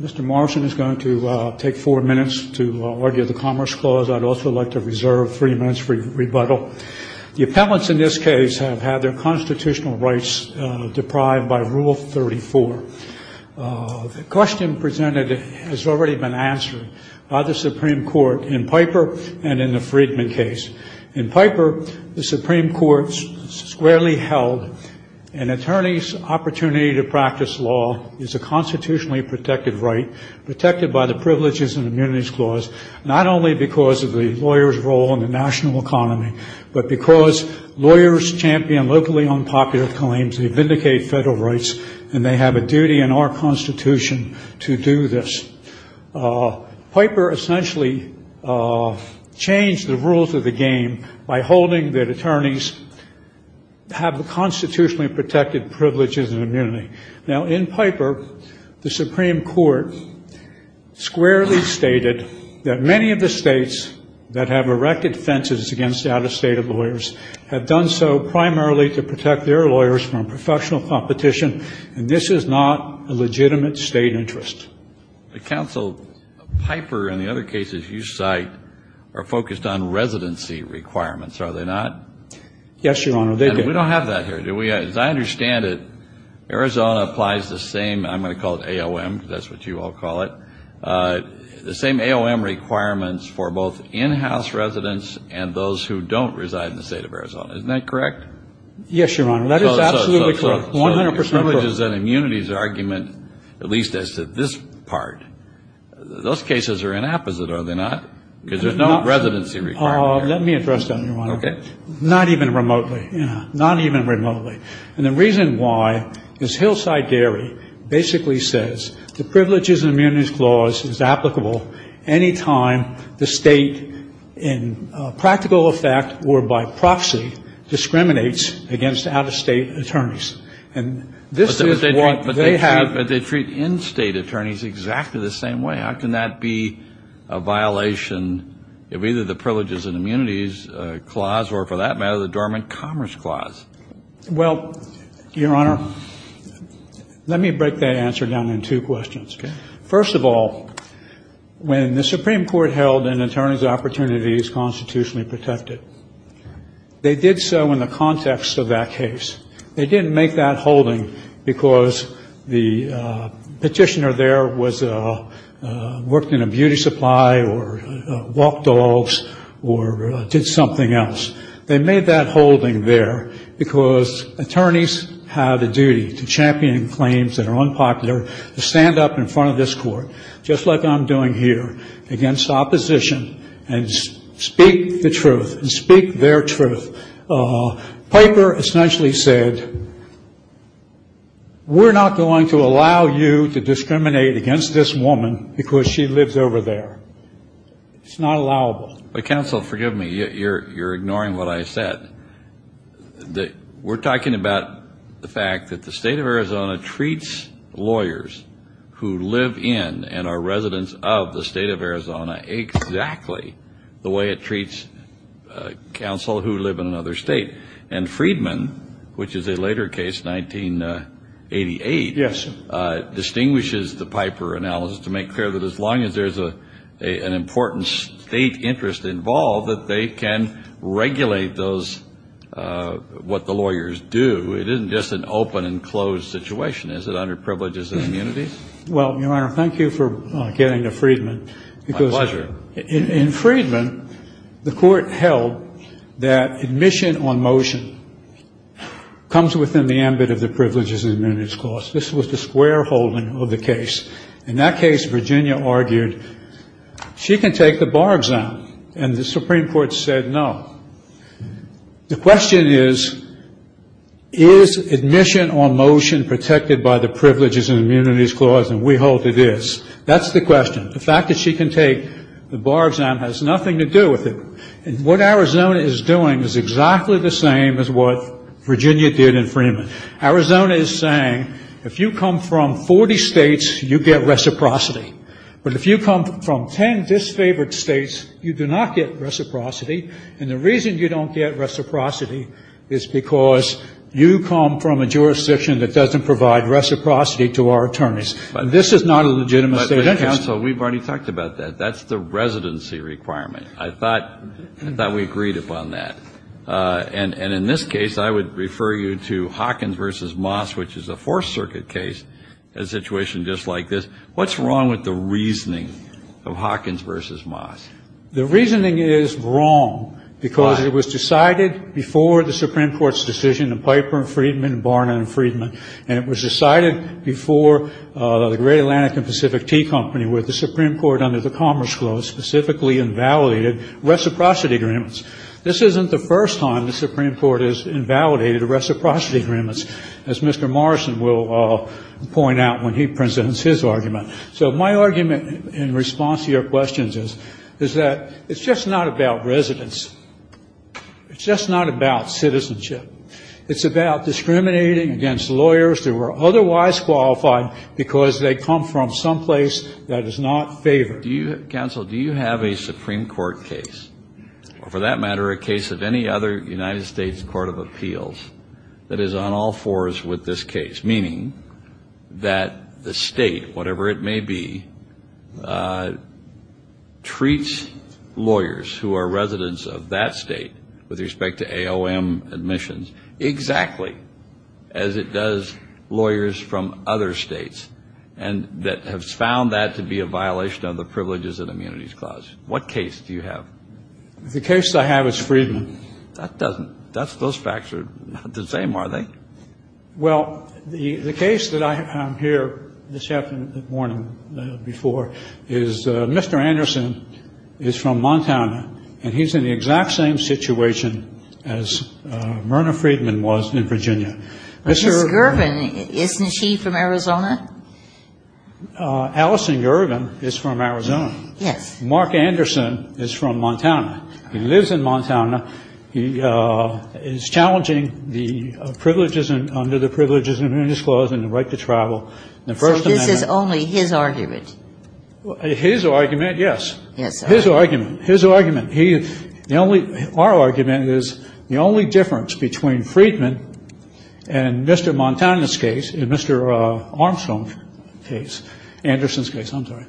Mr. Morrison is going to take four minutes to argue the Commerce Clause. I'd also like to reserve three minutes for rebuttal. The appellants in this case have had their constitutional rights deprived by Rule 34. The question presented has already been answered by the Supreme Court in Piper and in the Friedman case. In Piper, the Supreme Court squarely held an attorney's opportunity to practice law is a constitutionally protected right, protected by the Privileges and Immunities Clause, not only because of the lawyer's role in the national economy, but because lawyers champion locally unpopular claims, they vindicate federal rights, and they have a duty in our Constitution to do this. Piper essentially changed the rules of the game by holding that attorneys have the constitutionally protected privileges and immunity. Now, in Piper, the Supreme Court squarely stated that many of the states that have erected fences against out-of-state lawyers have done so primarily to protect their lawyers from professional competition, and this is not a legitimate state interest. The counsel Piper and the other cases you cite are focused on residency requirements, are they not? Yes, Your Honor. We don't have that here, do we? As I understand it, Arizona applies the same, I'm going to call it AOM, because that's what you all call it, the same AOM requirements for both in-house residents and those who don't reside in the State of Arizona. Isn't that correct? Yes, Your Honor. That is absolutely correct, 100 percent correct. The privileges and immunities argument, at least as to this part, those cases are inapposite, are they not? Because there's no residency requirement there. Let me address that, Your Honor. Okay. Not even remotely, not even remotely. And the reason why is Hillside Dairy basically says the privileges and immunities clause is applicable any time the state in practical effect or by proxy discriminates against out-of-state attorneys. And this is what they have. But they treat in-state attorneys exactly the same way. How can that be a violation of either the privileges and immunities clause or, for that matter, the dormant commerce clause? Well, Your Honor, let me break that answer down in two questions. First of all, when the Supreme Court held an attorney's opportunity is constitutionally protected, they did so in the context of that case. They didn't make that holding because the petitioner there worked in a beauty supply or walked dogs or did something else. They made that holding there because attorneys have a duty to champion claims that are unpopular, to stand up in front of this court, just like I'm doing here, against opposition and speak the truth and speak their truth. Piper essentially said, we're not going to allow you to discriminate against this woman because she lives over there. It's not allowable. But, counsel, forgive me. You're ignoring what I said. We're talking about the fact that the state of Arizona treats lawyers who live in and are residents of the state of Arizona exactly the way it treats counsel who live in another state. And Friedman, which is a later case, 1988, distinguishes the Piper analysis to make clear that as long as there's an important state interest involved, that they can regulate what the lawyers do. It isn't just an open and closed situation. Is it under privileges and immunities? Well, Your Honor, thank you for getting to Friedman. My pleasure. In Friedman, the court held that admission on motion comes within the ambit of the privileges and immunities clause. This was the square holding of the case. In that case, Virginia argued she can take the bar exam. And the Supreme Court said no. The question is, is admission on motion protected by the privileges and immunities clause? And we hold it is. That's the question. The fact that she can take the bar exam has nothing to do with it. And what Arizona is doing is exactly the same as what Virginia did in Friedman. Arizona is saying if you come from 40 states, you get reciprocity. But if you come from 10 disfavored states, you do not get reciprocity. And the reason you don't get reciprocity is because you come from a jurisdiction that doesn't provide reciprocity to our attorneys. This is not a legitimate state interest. But, counsel, we've already talked about that. That's the residency requirement. I thought we agreed upon that. And in this case, I would refer you to Hawkins v. Moss, which is a Fourth Circuit case, a situation just like this. What's wrong with the reasoning of Hawkins v. Moss? The reasoning is wrong because it was decided before the Supreme Court's decision in Piper and Friedman and Barna and Friedman. And it was decided before the Great Atlantic and Pacific Tea Company, where the Supreme Court under the Commerce Clause specifically invalidated reciprocity agreements. This isn't the first time the Supreme Court has invalidated reciprocity agreements, as Mr. Morrison will point out when he presents his argument. So my argument in response to your questions is that it's just not about residence. It's just not about citizenship. It's about discriminating against lawyers who are otherwise qualified because they come from someplace that is not favored. Counsel, do you have a Supreme Court case, or for that matter, a case of any other United States Court of Appeals that is on all fours with this case, meaning that the state, whatever it may be, treats lawyers who are residents of that state with respect to AOM admissions exactly as it does lawyers from other states and that have found that to be a violation of the Privileges and Immunities Clause? What case do you have? The case I have is Friedman. That doesn't – those facts are not the same, are they? Well, the case that I have here this morning before is Mr. Anderson is from Montana, and he's in the exact same situation as Myrna Friedman was in Virginia. Ms. Gervin, isn't she from Arizona? Allison Gervin is from Arizona. Yes. Mark Anderson is from Montana. He lives in Montana. He is challenging the privileges under the Privileges and Immunities Clause and the right to travel. So this is only his argument? His argument, yes. His argument. His argument. Our argument is the only difference between Friedman and Mr. Montana's case and Mr. Armstrong's case, Anderson's case, I'm sorry,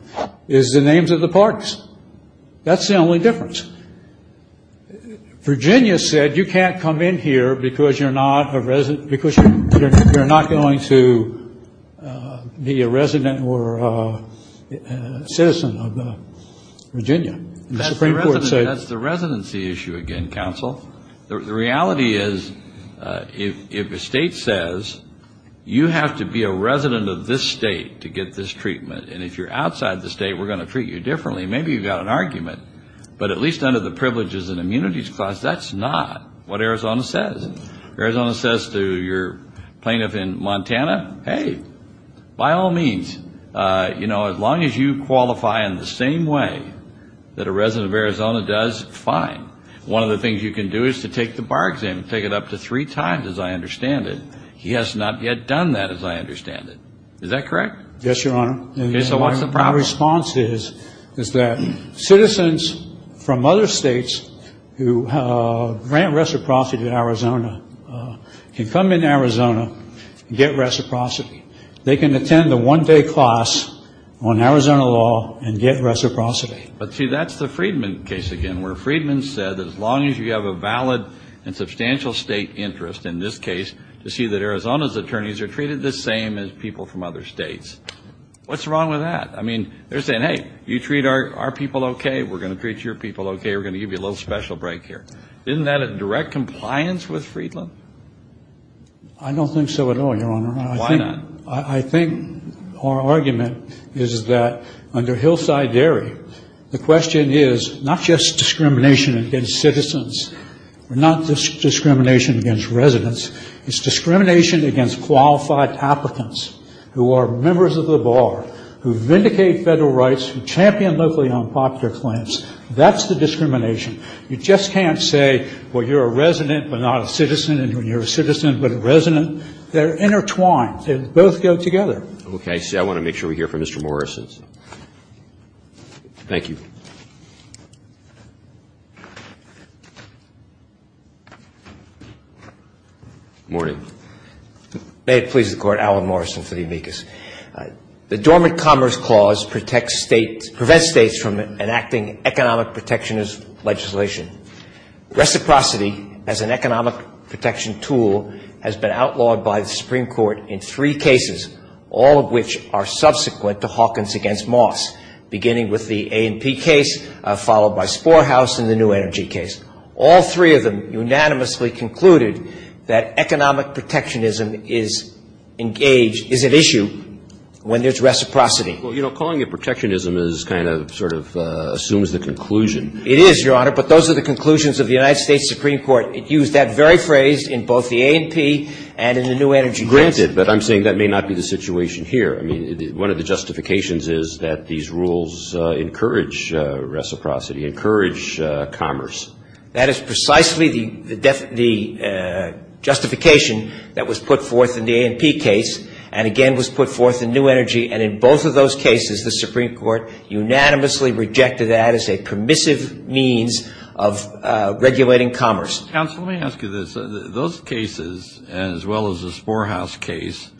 is the names of the parties. That's the only difference. Virginia said you can't come in here because you're not a resident because you're not going to be a resident or a citizen of Virginia. That's the residency issue again, counsel. The reality is if a state says you have to be a resident of this state to get this treatment, and if you're outside the state, we're going to treat you differently, maybe you've got an argument. But at least under the Privileges and Immunities Clause, that's not what Arizona says. Arizona says to your plaintiff in Montana, hey, by all means, you know, as long as you qualify in the same way that a resident of Arizona does, fine. One of the things you can do is to take the bar exam and take it up to three times, as I understand it. He has not yet done that, as I understand it. Is that correct? Yes, Your Honor. So what's the problem? My response is that citizens from other states who grant reciprocity to Arizona can come in Arizona and get reciprocity. They can attend the one-day class on Arizona law and get reciprocity. But see, that's the Friedman case again, where Friedman said as long as you have a valid and substantial state interest, in this case, to see that Arizona's attorneys are treated the same as people from other states. What's wrong with that? I mean, they're saying, hey, you treat our people okay, we're going to treat your people okay, we're going to give you a little special break here. Isn't that a direct compliance with Friedman? I don't think so at all, Your Honor. Why not? I think our argument is that under Hillside Dairy, the question is not just discrimination against citizens, not just discrimination against residents. It's discrimination against qualified applicants who are members of the bar, who vindicate federal rights, who champion locally unpopular claims. That's the discrimination. You just can't say, well, you're a resident but not a citizen, and you're a citizen but a resident. They're intertwined. They both go together. Okay. See, I want to make sure we hear from Mr. Morrison. Thank you. Morning. May it please the Court. Alan Morrison for the amicus. The Dormant Commerce Clause protects states, prevents states from enacting economic protectionist legislation. Reciprocity as an economic protection tool has been outlawed by the Supreme Court in three cases, all of which are subsequent to Hawkins against Moss, beginning with the A&P case, followed by Sporhouse and the New Energy case. All three of them unanimously concluded that economic protectionism is engaged, is at issue when there's reciprocity. Well, you know, calling it protectionism is kind of sort of assumes the conclusion. It is, Your Honor, but those are the conclusions of the United States Supreme Court. It used that very phrase in both the A&P and in the New Energy case. Granted, but I'm saying that may not be the situation here. I mean, one of the justifications is that these rules encourage reciprocity, encourage commerce. That is precisely the justification that was put forth in the A&P case and again was put forth in New Energy, and in both of those cases, the Supreme Court unanimously rejected that as a permissive means of regulating commerce. Counsel, let me ask you this. Those cases, as well as the Sporhouse case,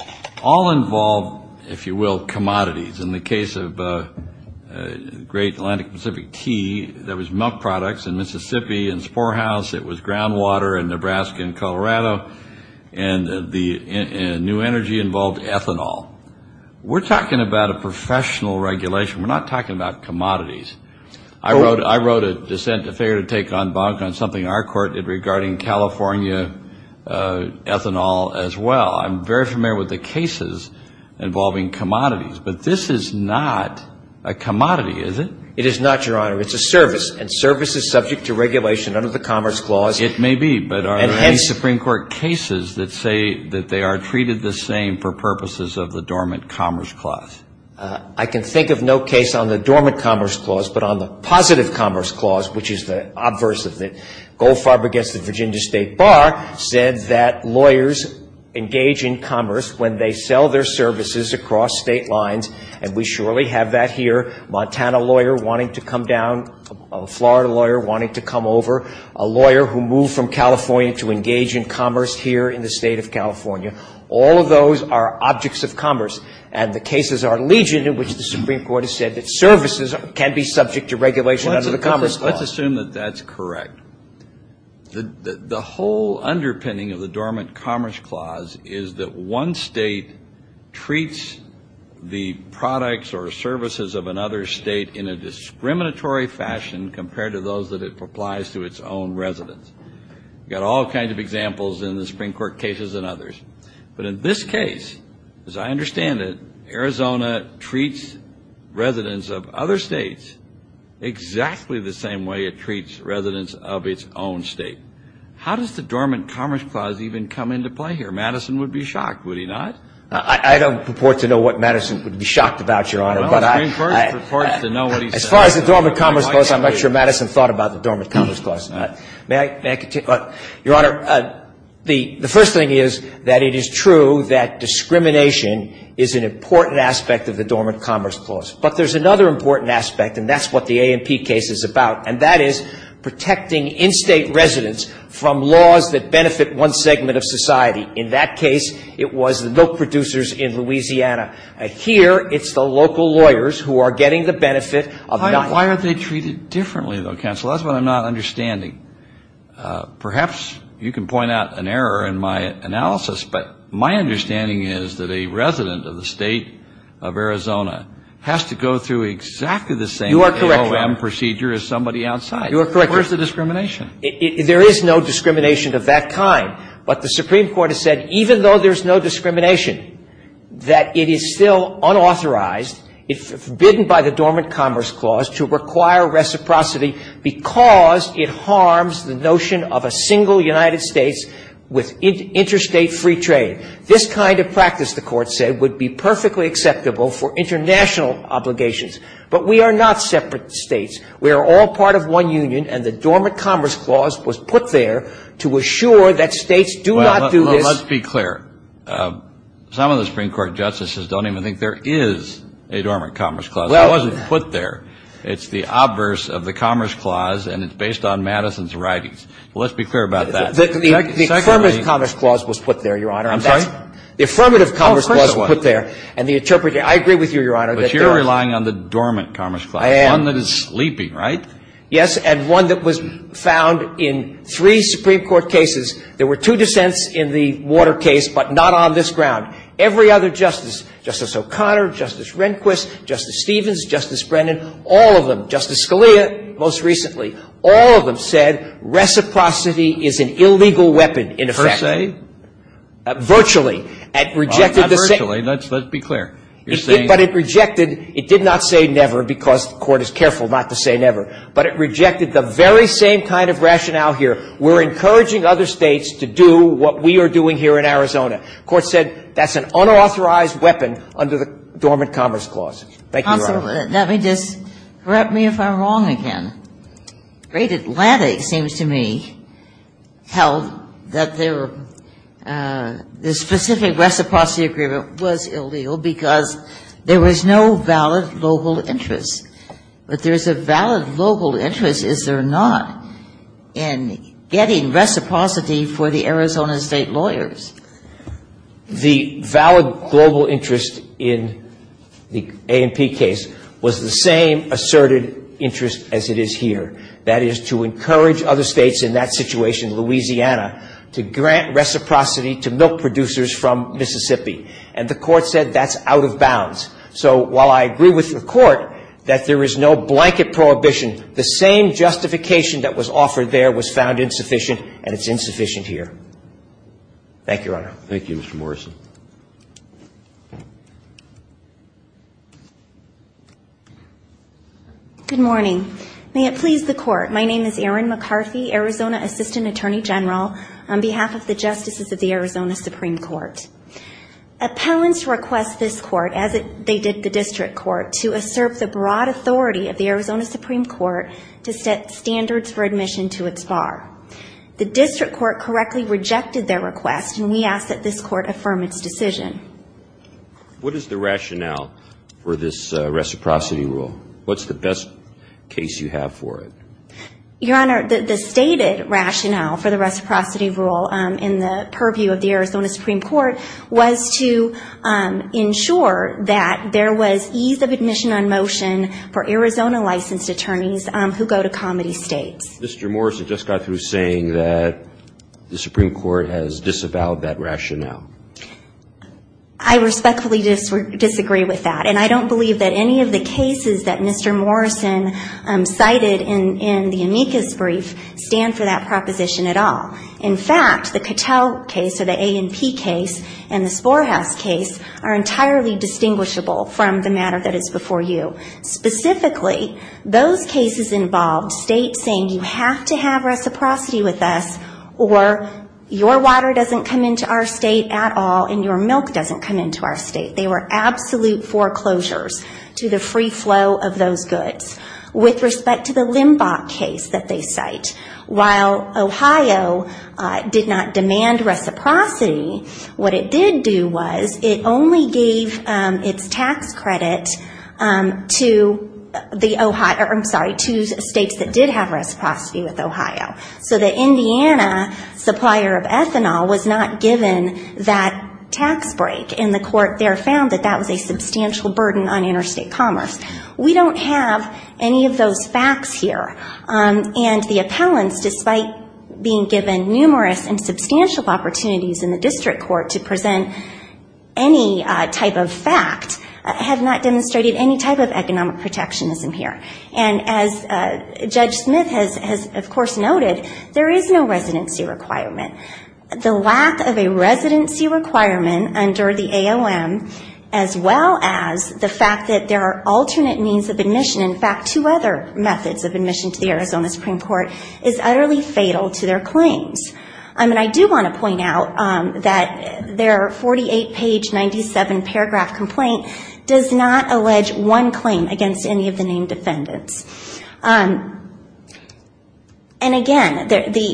all involve, if you will, commodities. In the case of Great Atlantic Pacific Tea, there was milk products in Mississippi. In Sporhouse, it was groundwater in Nebraska and Colorado. And the New Energy involved ethanol. We're talking about a professional regulation. We're not talking about commodities. I wrote a dissent, a failure to take en banc on something our court did regarding California ethanol as well. I'm very familiar with the cases involving commodities, but this is not a commodity, is it? It is not, Your Honor. It's a service, and service is subject to regulation under the Commerce Clause. It may be, but are there any Supreme Court cases that say that they are treated the same for purposes of the Dormant Commerce Clause? I can think of no case on the Dormant Commerce Clause, but on the Positive Commerce Clause, which is the obverse of it. Goldfarb against the Virginia State Bar said that lawyers engage in commerce when they sell their services across state lines, and we surely have that here, Montana lawyer wanting to come down, Florida lawyer wanting to come over, a lawyer who moved from California to engage in commerce here in the State of California. All of those are objects of commerce. And the cases are legion in which the Supreme Court has said that services can be subject to regulation under the Commerce Clause. Let's assume that that's correct. The whole underpinning of the Dormant Commerce Clause is that one State treats the products or services of another State in a discriminatory fashion compared to those that it applies to its own residents. You've got all kinds of examples in the Supreme Court cases and others. But in this case, as I understand it, Arizona treats residents of other States exactly the same way it treats residents of its own State. How does the Dormant Commerce Clause even come into play here? Madison would be shocked, would he not? I don't purport to know what Madison would be shocked about, Your Honor. Well, Supreme Court purports to know what he says. As far as the Dormant Commerce Clause, I'm not sure Madison thought about the Dormant Commerce Clause. May I continue? Your Honor, the first thing is that it is true that discrimination is an important aspect of the Dormant Commerce Clause. But there's another important aspect, and that's what the A&P case is about, and that is protecting in-State residents from laws that benefit one segment of society. In that case, it was the milk producers in Louisiana. Here, it's the local lawyers who are getting the benefit of not. Why are they treated differently, though, counsel? That's what I'm not understanding. Perhaps you can point out an error in my analysis, but my understanding is that a resident of the State of Arizona has to go through exactly the same AOM procedure as somebody outside. You are correct, Your Honor. Where's the discrimination? There is no discrimination of that kind. But the Supreme Court has said even though there's no discrimination, that it is still unauthorized, forbidden by the Dormant Commerce Clause to require reciprocity because it harms the notion of a single United States with interstate free trade. This kind of practice, the Court said, would be perfectly acceptable for international obligations. But we are not separate States. We are all part of one union, and the Dormant Commerce Clause was put there to assure that States do not do this. Well, let's be clear. Some of the Supreme Court justices don't even think there is a Dormant Commerce Clause. It wasn't put there. It's the obverse of the Commerce Clause, and it's based on Madison's writings. Let's be clear about that. The Affirmative Commerce Clause was put there, Your Honor. The Affirmative Commerce Clause was put there. Oh, first of all. I agree with you, Your Honor. But you're relying on the Dormant Commerce Clause. I am. It's the one that is sleeping, right? Yes, and one that was found in three Supreme Court cases. There were two dissents in the Water case, but not on this ground. Every other justice, Justice O'Connor, Justice Rehnquist, Justice Stevens, Justice Brennan, all of them, Justice Scalia most recently, all of them said reciprocity is an illegal weapon in effect. Per se? Virtually. It rejected the same. Well, not virtually. Let's be clear. You're saying? But it rejected. It did not say never, because the Court is careful not to say never. But it rejected the very same kind of rationale here. We're encouraging other States to do what we are doing here in Arizona. The Court said that's an unauthorized weapon under the Dormant Commerce Clause. Thank you, Your Honor. Counsel, let me just — correct me if I'm wrong again. The Great Atlantic, it seems to me, held that the specific reciprocity agreement was illegal because there was no valid global interest. But there is a valid global interest, is there not, in getting reciprocity for the Arizona State lawyers? The valid global interest in the A&P case was the same asserted interest as it is here that is to encourage other States in that situation, Louisiana, to grant reciprocity to milk producers from Mississippi. And the Court said that's out of bounds. So while I agree with the Court that there is no blanket prohibition, the same justification that was offered there was found insufficient, and it's insufficient here. Thank you, Your Honor. Thank you, Mr. Morrison. Good morning. May it please the Court. My name is Erin McCarthy, Arizona Assistant Attorney General, on behalf of the Justices of the Arizona Supreme Court. Appellants request this Court, as they did the District Court, to assert the broad authority of the Arizona Supreme Court to set standards for admission to its bar. The District Court correctly rejected their request, and we ask that this Court affirm its decision. What is the rationale for this reciprocity rule? What's the best case you have for it? Your Honor, the stated rationale for the reciprocity rule in the purview of the Arizona Supreme Court was to ensure that there was ease of admission on motion for Arizona licensed attorneys who go to comedy States. Mr. Morrison just got through saying that the Supreme Court has disavowed that rationale. I respectfully disagree with that, and I don't believe that any of the cases that Mr. Morrison cited in the amicus brief stand for that proposition at all. In fact, the Cattell case or the A&P case and the Sporehouse case are entirely distinguishable from the matter that is before you. Specifically, those cases involved States saying, you have to have reciprocity with us or your water doesn't come into our State at all and your milk doesn't come into our State. They were absolute foreclosures to the free flow of those goods. With respect to the Limbach case that they cite, while Ohio did not demand reciprocity, what it did do was it only gave its tax credit to the Ohio, I'm sorry, to States that did have reciprocity with Ohio. So the Indiana supplier of ethanol was not given that tax break and the court there found that that was a substantial burden on interstate commerce. We don't have any of those facts here. And the appellants, despite being given numerous and substantial opportunities in the district court to present any type of fact, have not demonstrated any type of economic protectionism here. And as Judge Smith has, of course, noted, there is no residency requirement. The lack of a residency requirement under the AOM, as well as the fact that there are alternate means of admission, in fact, two other methods of admission to the Arizona Supreme Court, is utterly fatal to their claims. I do want to point out that their 48-page, 97-paragraph complaint does not allege one claim against any of the named defendants. And again,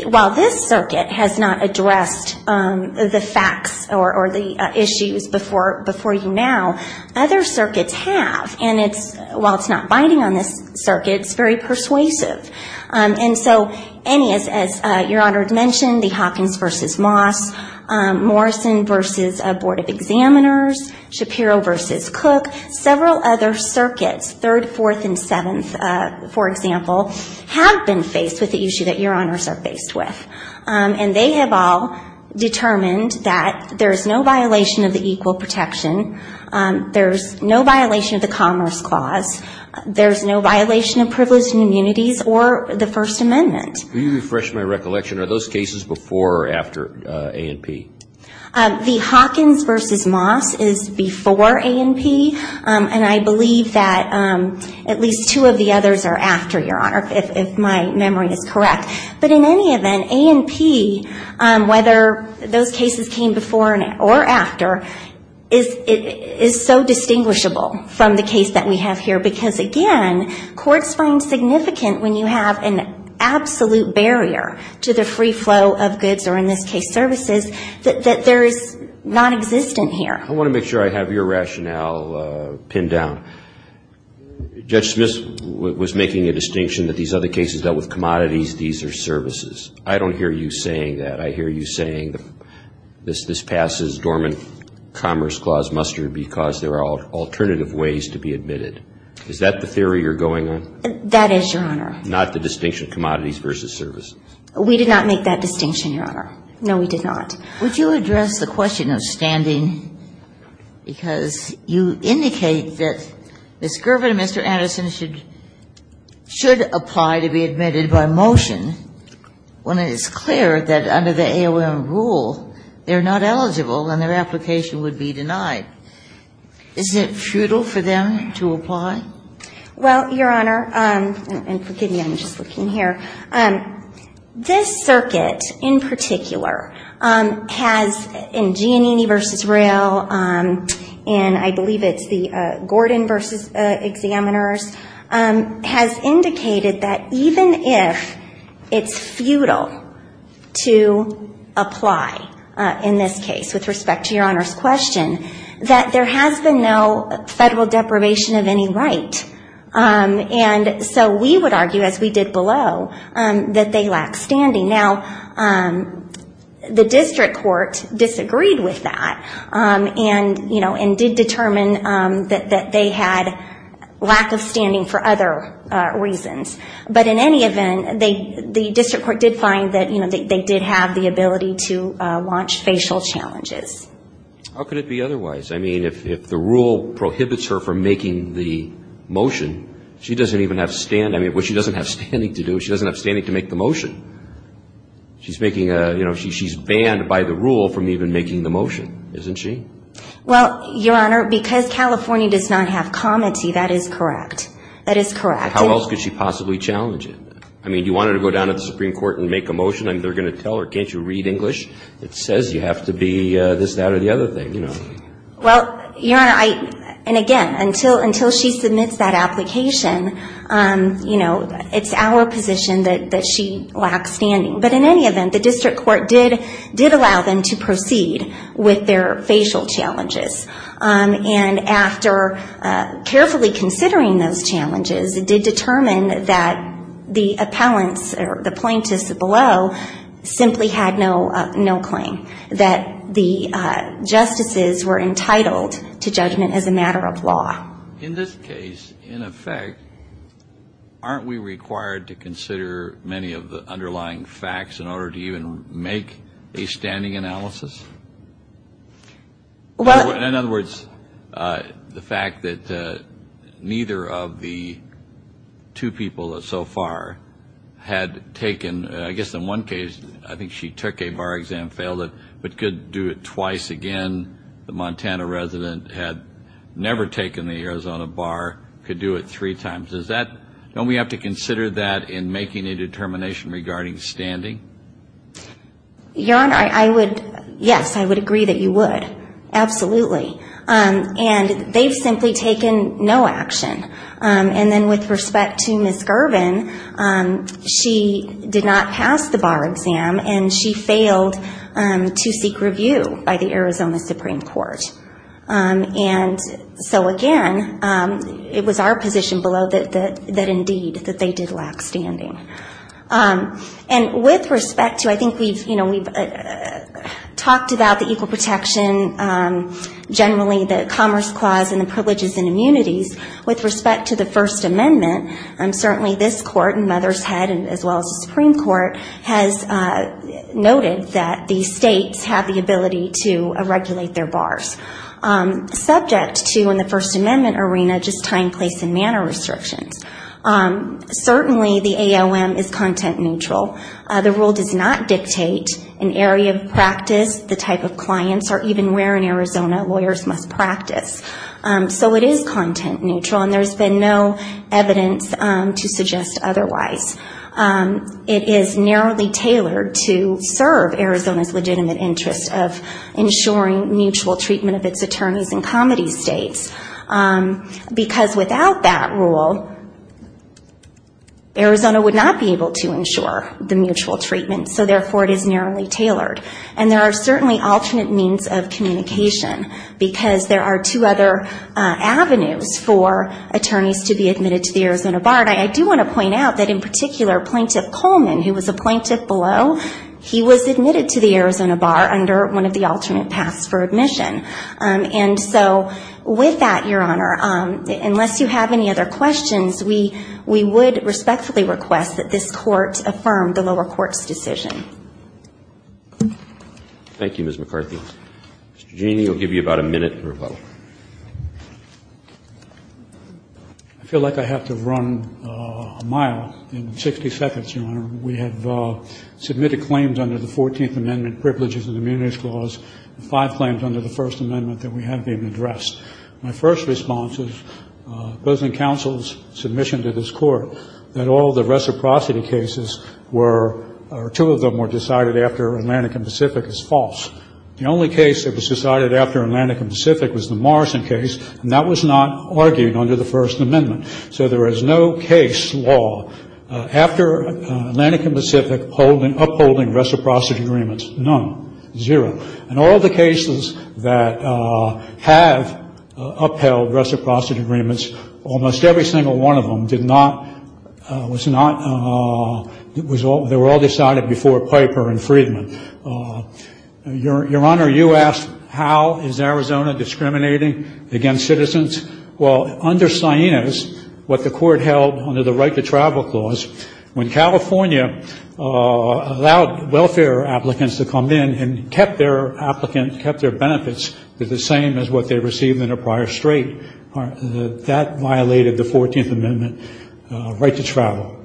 while this circuit has not addressed the facts or the issues before you now, other circuits have. And while it's not biting on this circuit, it's very persuasive. And so any, as Your Honor mentioned, the Hawkins v. Moss, Morrison v. Board of Examiners, Shapiro v. Cook, several other circuits, 3rd, 4th, and 7th, for example, have been faced with the issue that Your Honors are faced with. And they have all determined that there is no violation of the equal protection, there's no violation of the Commerce Clause, there's no violation of privileged immunities or the First Amendment. Can you refresh my recollection? Are those cases before or after A&P? The Hawkins v. Moss is before A&P, and I believe that at least two of the others are after, Your Honor, if my memory is correct. But in any event, A&P, whether those cases came before or after, is so distinguishable from the case that we have here, because again, courts find significant when you have an absolute barrier to the free flow of goods or, in this case, services, that there is nonexistent here. I want to make sure I have your rationale pinned down. Judge Smith was making a distinction that these other cases dealt with commodities, these are services. I don't hear you saying that. I hear you saying this passes dormant Commerce Clause muster because there are alternative ways to be admitted. Is that the theory you're going on? That is, Your Honor. Not the distinction of commodities versus services. We did not make that distinction, Your Honor. No, we did not. Would you address the question of standing? Because you indicate that Ms. Girvin and Mr. Anderson should apply to be admitted by motion when it is clear that under the AOM rule they're not eligible and their application would be denied. Isn't it futile for them to apply? Well, Your Honor, and forgive me, I'm just looking here. This circuit, in particular, has, in Giannini v. Roehl, and I believe it's the Gordon v. Examiners, has indicated that even if it's futile to apply in this case, with respect to Your Honor's question, that there has been no federal deprivation of any right. And so we would argue, as we did below, that they lack standing. Now, the district court disagreed with that and, you know, and did determine that they had lack of standing for other reasons. But in any event, the district court did find that, you know, they did have the ability to launch facial challenges. How could it be otherwise? I mean, if the rule prohibits her from making the motion, she doesn't even have stand. I mean, what she doesn't have standing to do, she doesn't have standing to make the motion. She's making a, you know, she's banned by the rule from even making the motion, isn't she? Well, Your Honor, because California does not have comity, that is correct. That is correct. How else could she possibly challenge it? I mean, do you want her to go down to the Supreme Court and make a motion? I mean, they're going to tell her, can't you read English? It says you have to be this, that, or the other thing, you know. Well, Your Honor, and again, until she submits that application, you know, it's our position that she lacks standing. But in any event, the district court did allow them to proceed with their facial challenges. And after carefully considering those challenges, it did determine that the appellants or the plaintiffs below simply had no claim, that the justices were entitled to judgment as a matter of law. In this case, in effect, aren't we required to consider many of the underlying facts in order to even make a standing analysis? Well. In other words, the fact that neither of the two people so far had taken, I guess in one case I think she took a bar exam, failed it, but could do it twice again. The Montana resident had never taken the Arizona bar, could do it three times. Is that, don't we have to consider that in making a determination regarding standing? Your Honor, I would, yes, I would agree that you would. Absolutely. And they've simply taken no action. And then with respect to Ms. Girvin, she did not pass the bar exam, and she failed to seek review by the Arizona Supreme Court. And so again, it was our position below that indeed, that they did lack standing. And with respect to, I think we've, you know, we've talked about the equal protection, generally the Commerce Clause and the privileges and immunities. With respect to the First Amendment, certainly this Court and Mother's Head, as well as the Supreme Court, has noted that the states have the ability to regulate their bars. Subject to, in the First Amendment arena, just time, place and manner restrictions. Certainly the AOM is content neutral. The rule does not dictate an area of practice, the type of clients, or even where in Arizona lawyers must practice. So it is content neutral, and there's been no evidence to suggest otherwise. It is narrowly tailored to serve Arizona's legitimate interest of ensuring mutual treatment of its attorneys in comedy states, because without that rule, Arizona would not be able to ensure the mutual treatment. So therefore, it is narrowly tailored. And there are certainly alternate means of communication, because there are two other avenues for attorneys to be admitted to the Arizona bar. And I do want to point out that in particular, Plaintiff Coleman, who was a plaintiff below, he was admitted to the Arizona bar under one of the alternate paths for admission. And so with that, Your Honor, unless you have any other questions, we would respectfully request that this Court affirm the lower court's decision. Thank you, Ms. McCarthy. Mr. Genie will give you about a minute to rebuttal. I feel like I have to run a mile in 60 seconds, Your Honor. We have submitted claims under the 14th Amendment Privileges and Immunities Clause and five claims under the First Amendment that we haven't even addressed. My first response is opposing counsel's submission to this Court that all the reciprocity cases were or two of them were decided after Atlantic and Pacific as false. The only case that was decided after Atlantic and Pacific was the Morrison case, and that was not argued under the First Amendment. So there is no case law. After Atlantic and Pacific upholding reciprocity agreements, none, zero. And all the cases that have upheld reciprocity agreements, almost every single one of them did not, was not, they were all decided before Piper and Friedman. Your Honor, you asked how is Arizona discriminating against citizens. Well, under Siena's, what the Court held under the Right to Travel Clause, when California allowed welfare applicants to come in and kept their applicants, kept their benefits the same as what they received in a prior state, that violated the 14th Amendment right to travel.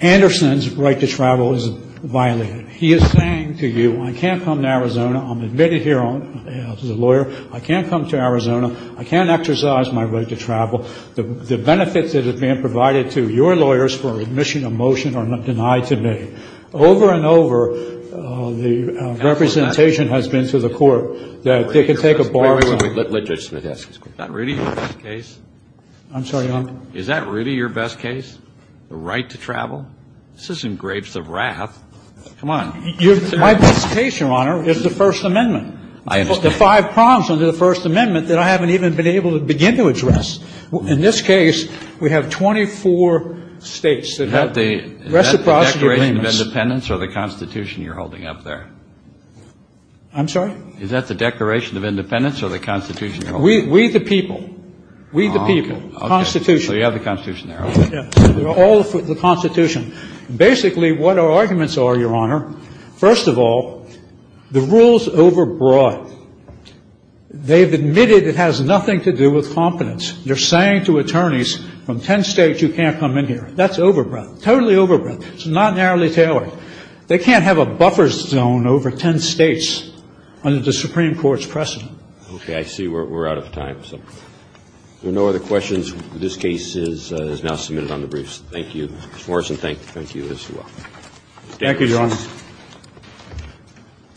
Anderson's right to travel is violated. He is saying to you, I can't come to Arizona. I'm admitted here as a lawyer. I can't come to Arizona. I can't exercise my right to travel. The benefits that are being provided to your lawyers for admission of motion are not denied to me. Over and over, the representation has been to the Court that they can take a bar. Let Judge Smith ask his question. Is that really your best case? I'm sorry, Your Honor? Is that really your best case, the right to travel? This is engraved with wrath. Come on. My best case, Your Honor, is the First Amendment. I understand. The five prongs under the First Amendment that I haven't even been able to begin to address. In this case, we have 24 states that have reciprocity agreements. Is that the Declaration of Independence or the Constitution you're holding up there? I'm sorry? Is that the Declaration of Independence or the Constitution you're holding up there? We the people. We the people. Constitution. So you have the Constitution there, right? Yeah. All the Constitution. Basically, what our arguments are, Your Honor, first of all, the rule's overbroad. They've admitted it has nothing to do with competence. You're saying to attorneys from 10 states, you can't come in here. That's overbroad. Totally overbroad. It's not narrowly tailored. They can't have a buffer zone over 10 states under the Supreme Court's precedent. Okay. I see we're out of time. So if there are no other questions, this case is now submitted on the briefs. Thank you, Mr. Morrison. Thank you as well. Thank you, Your Honor. Thank you.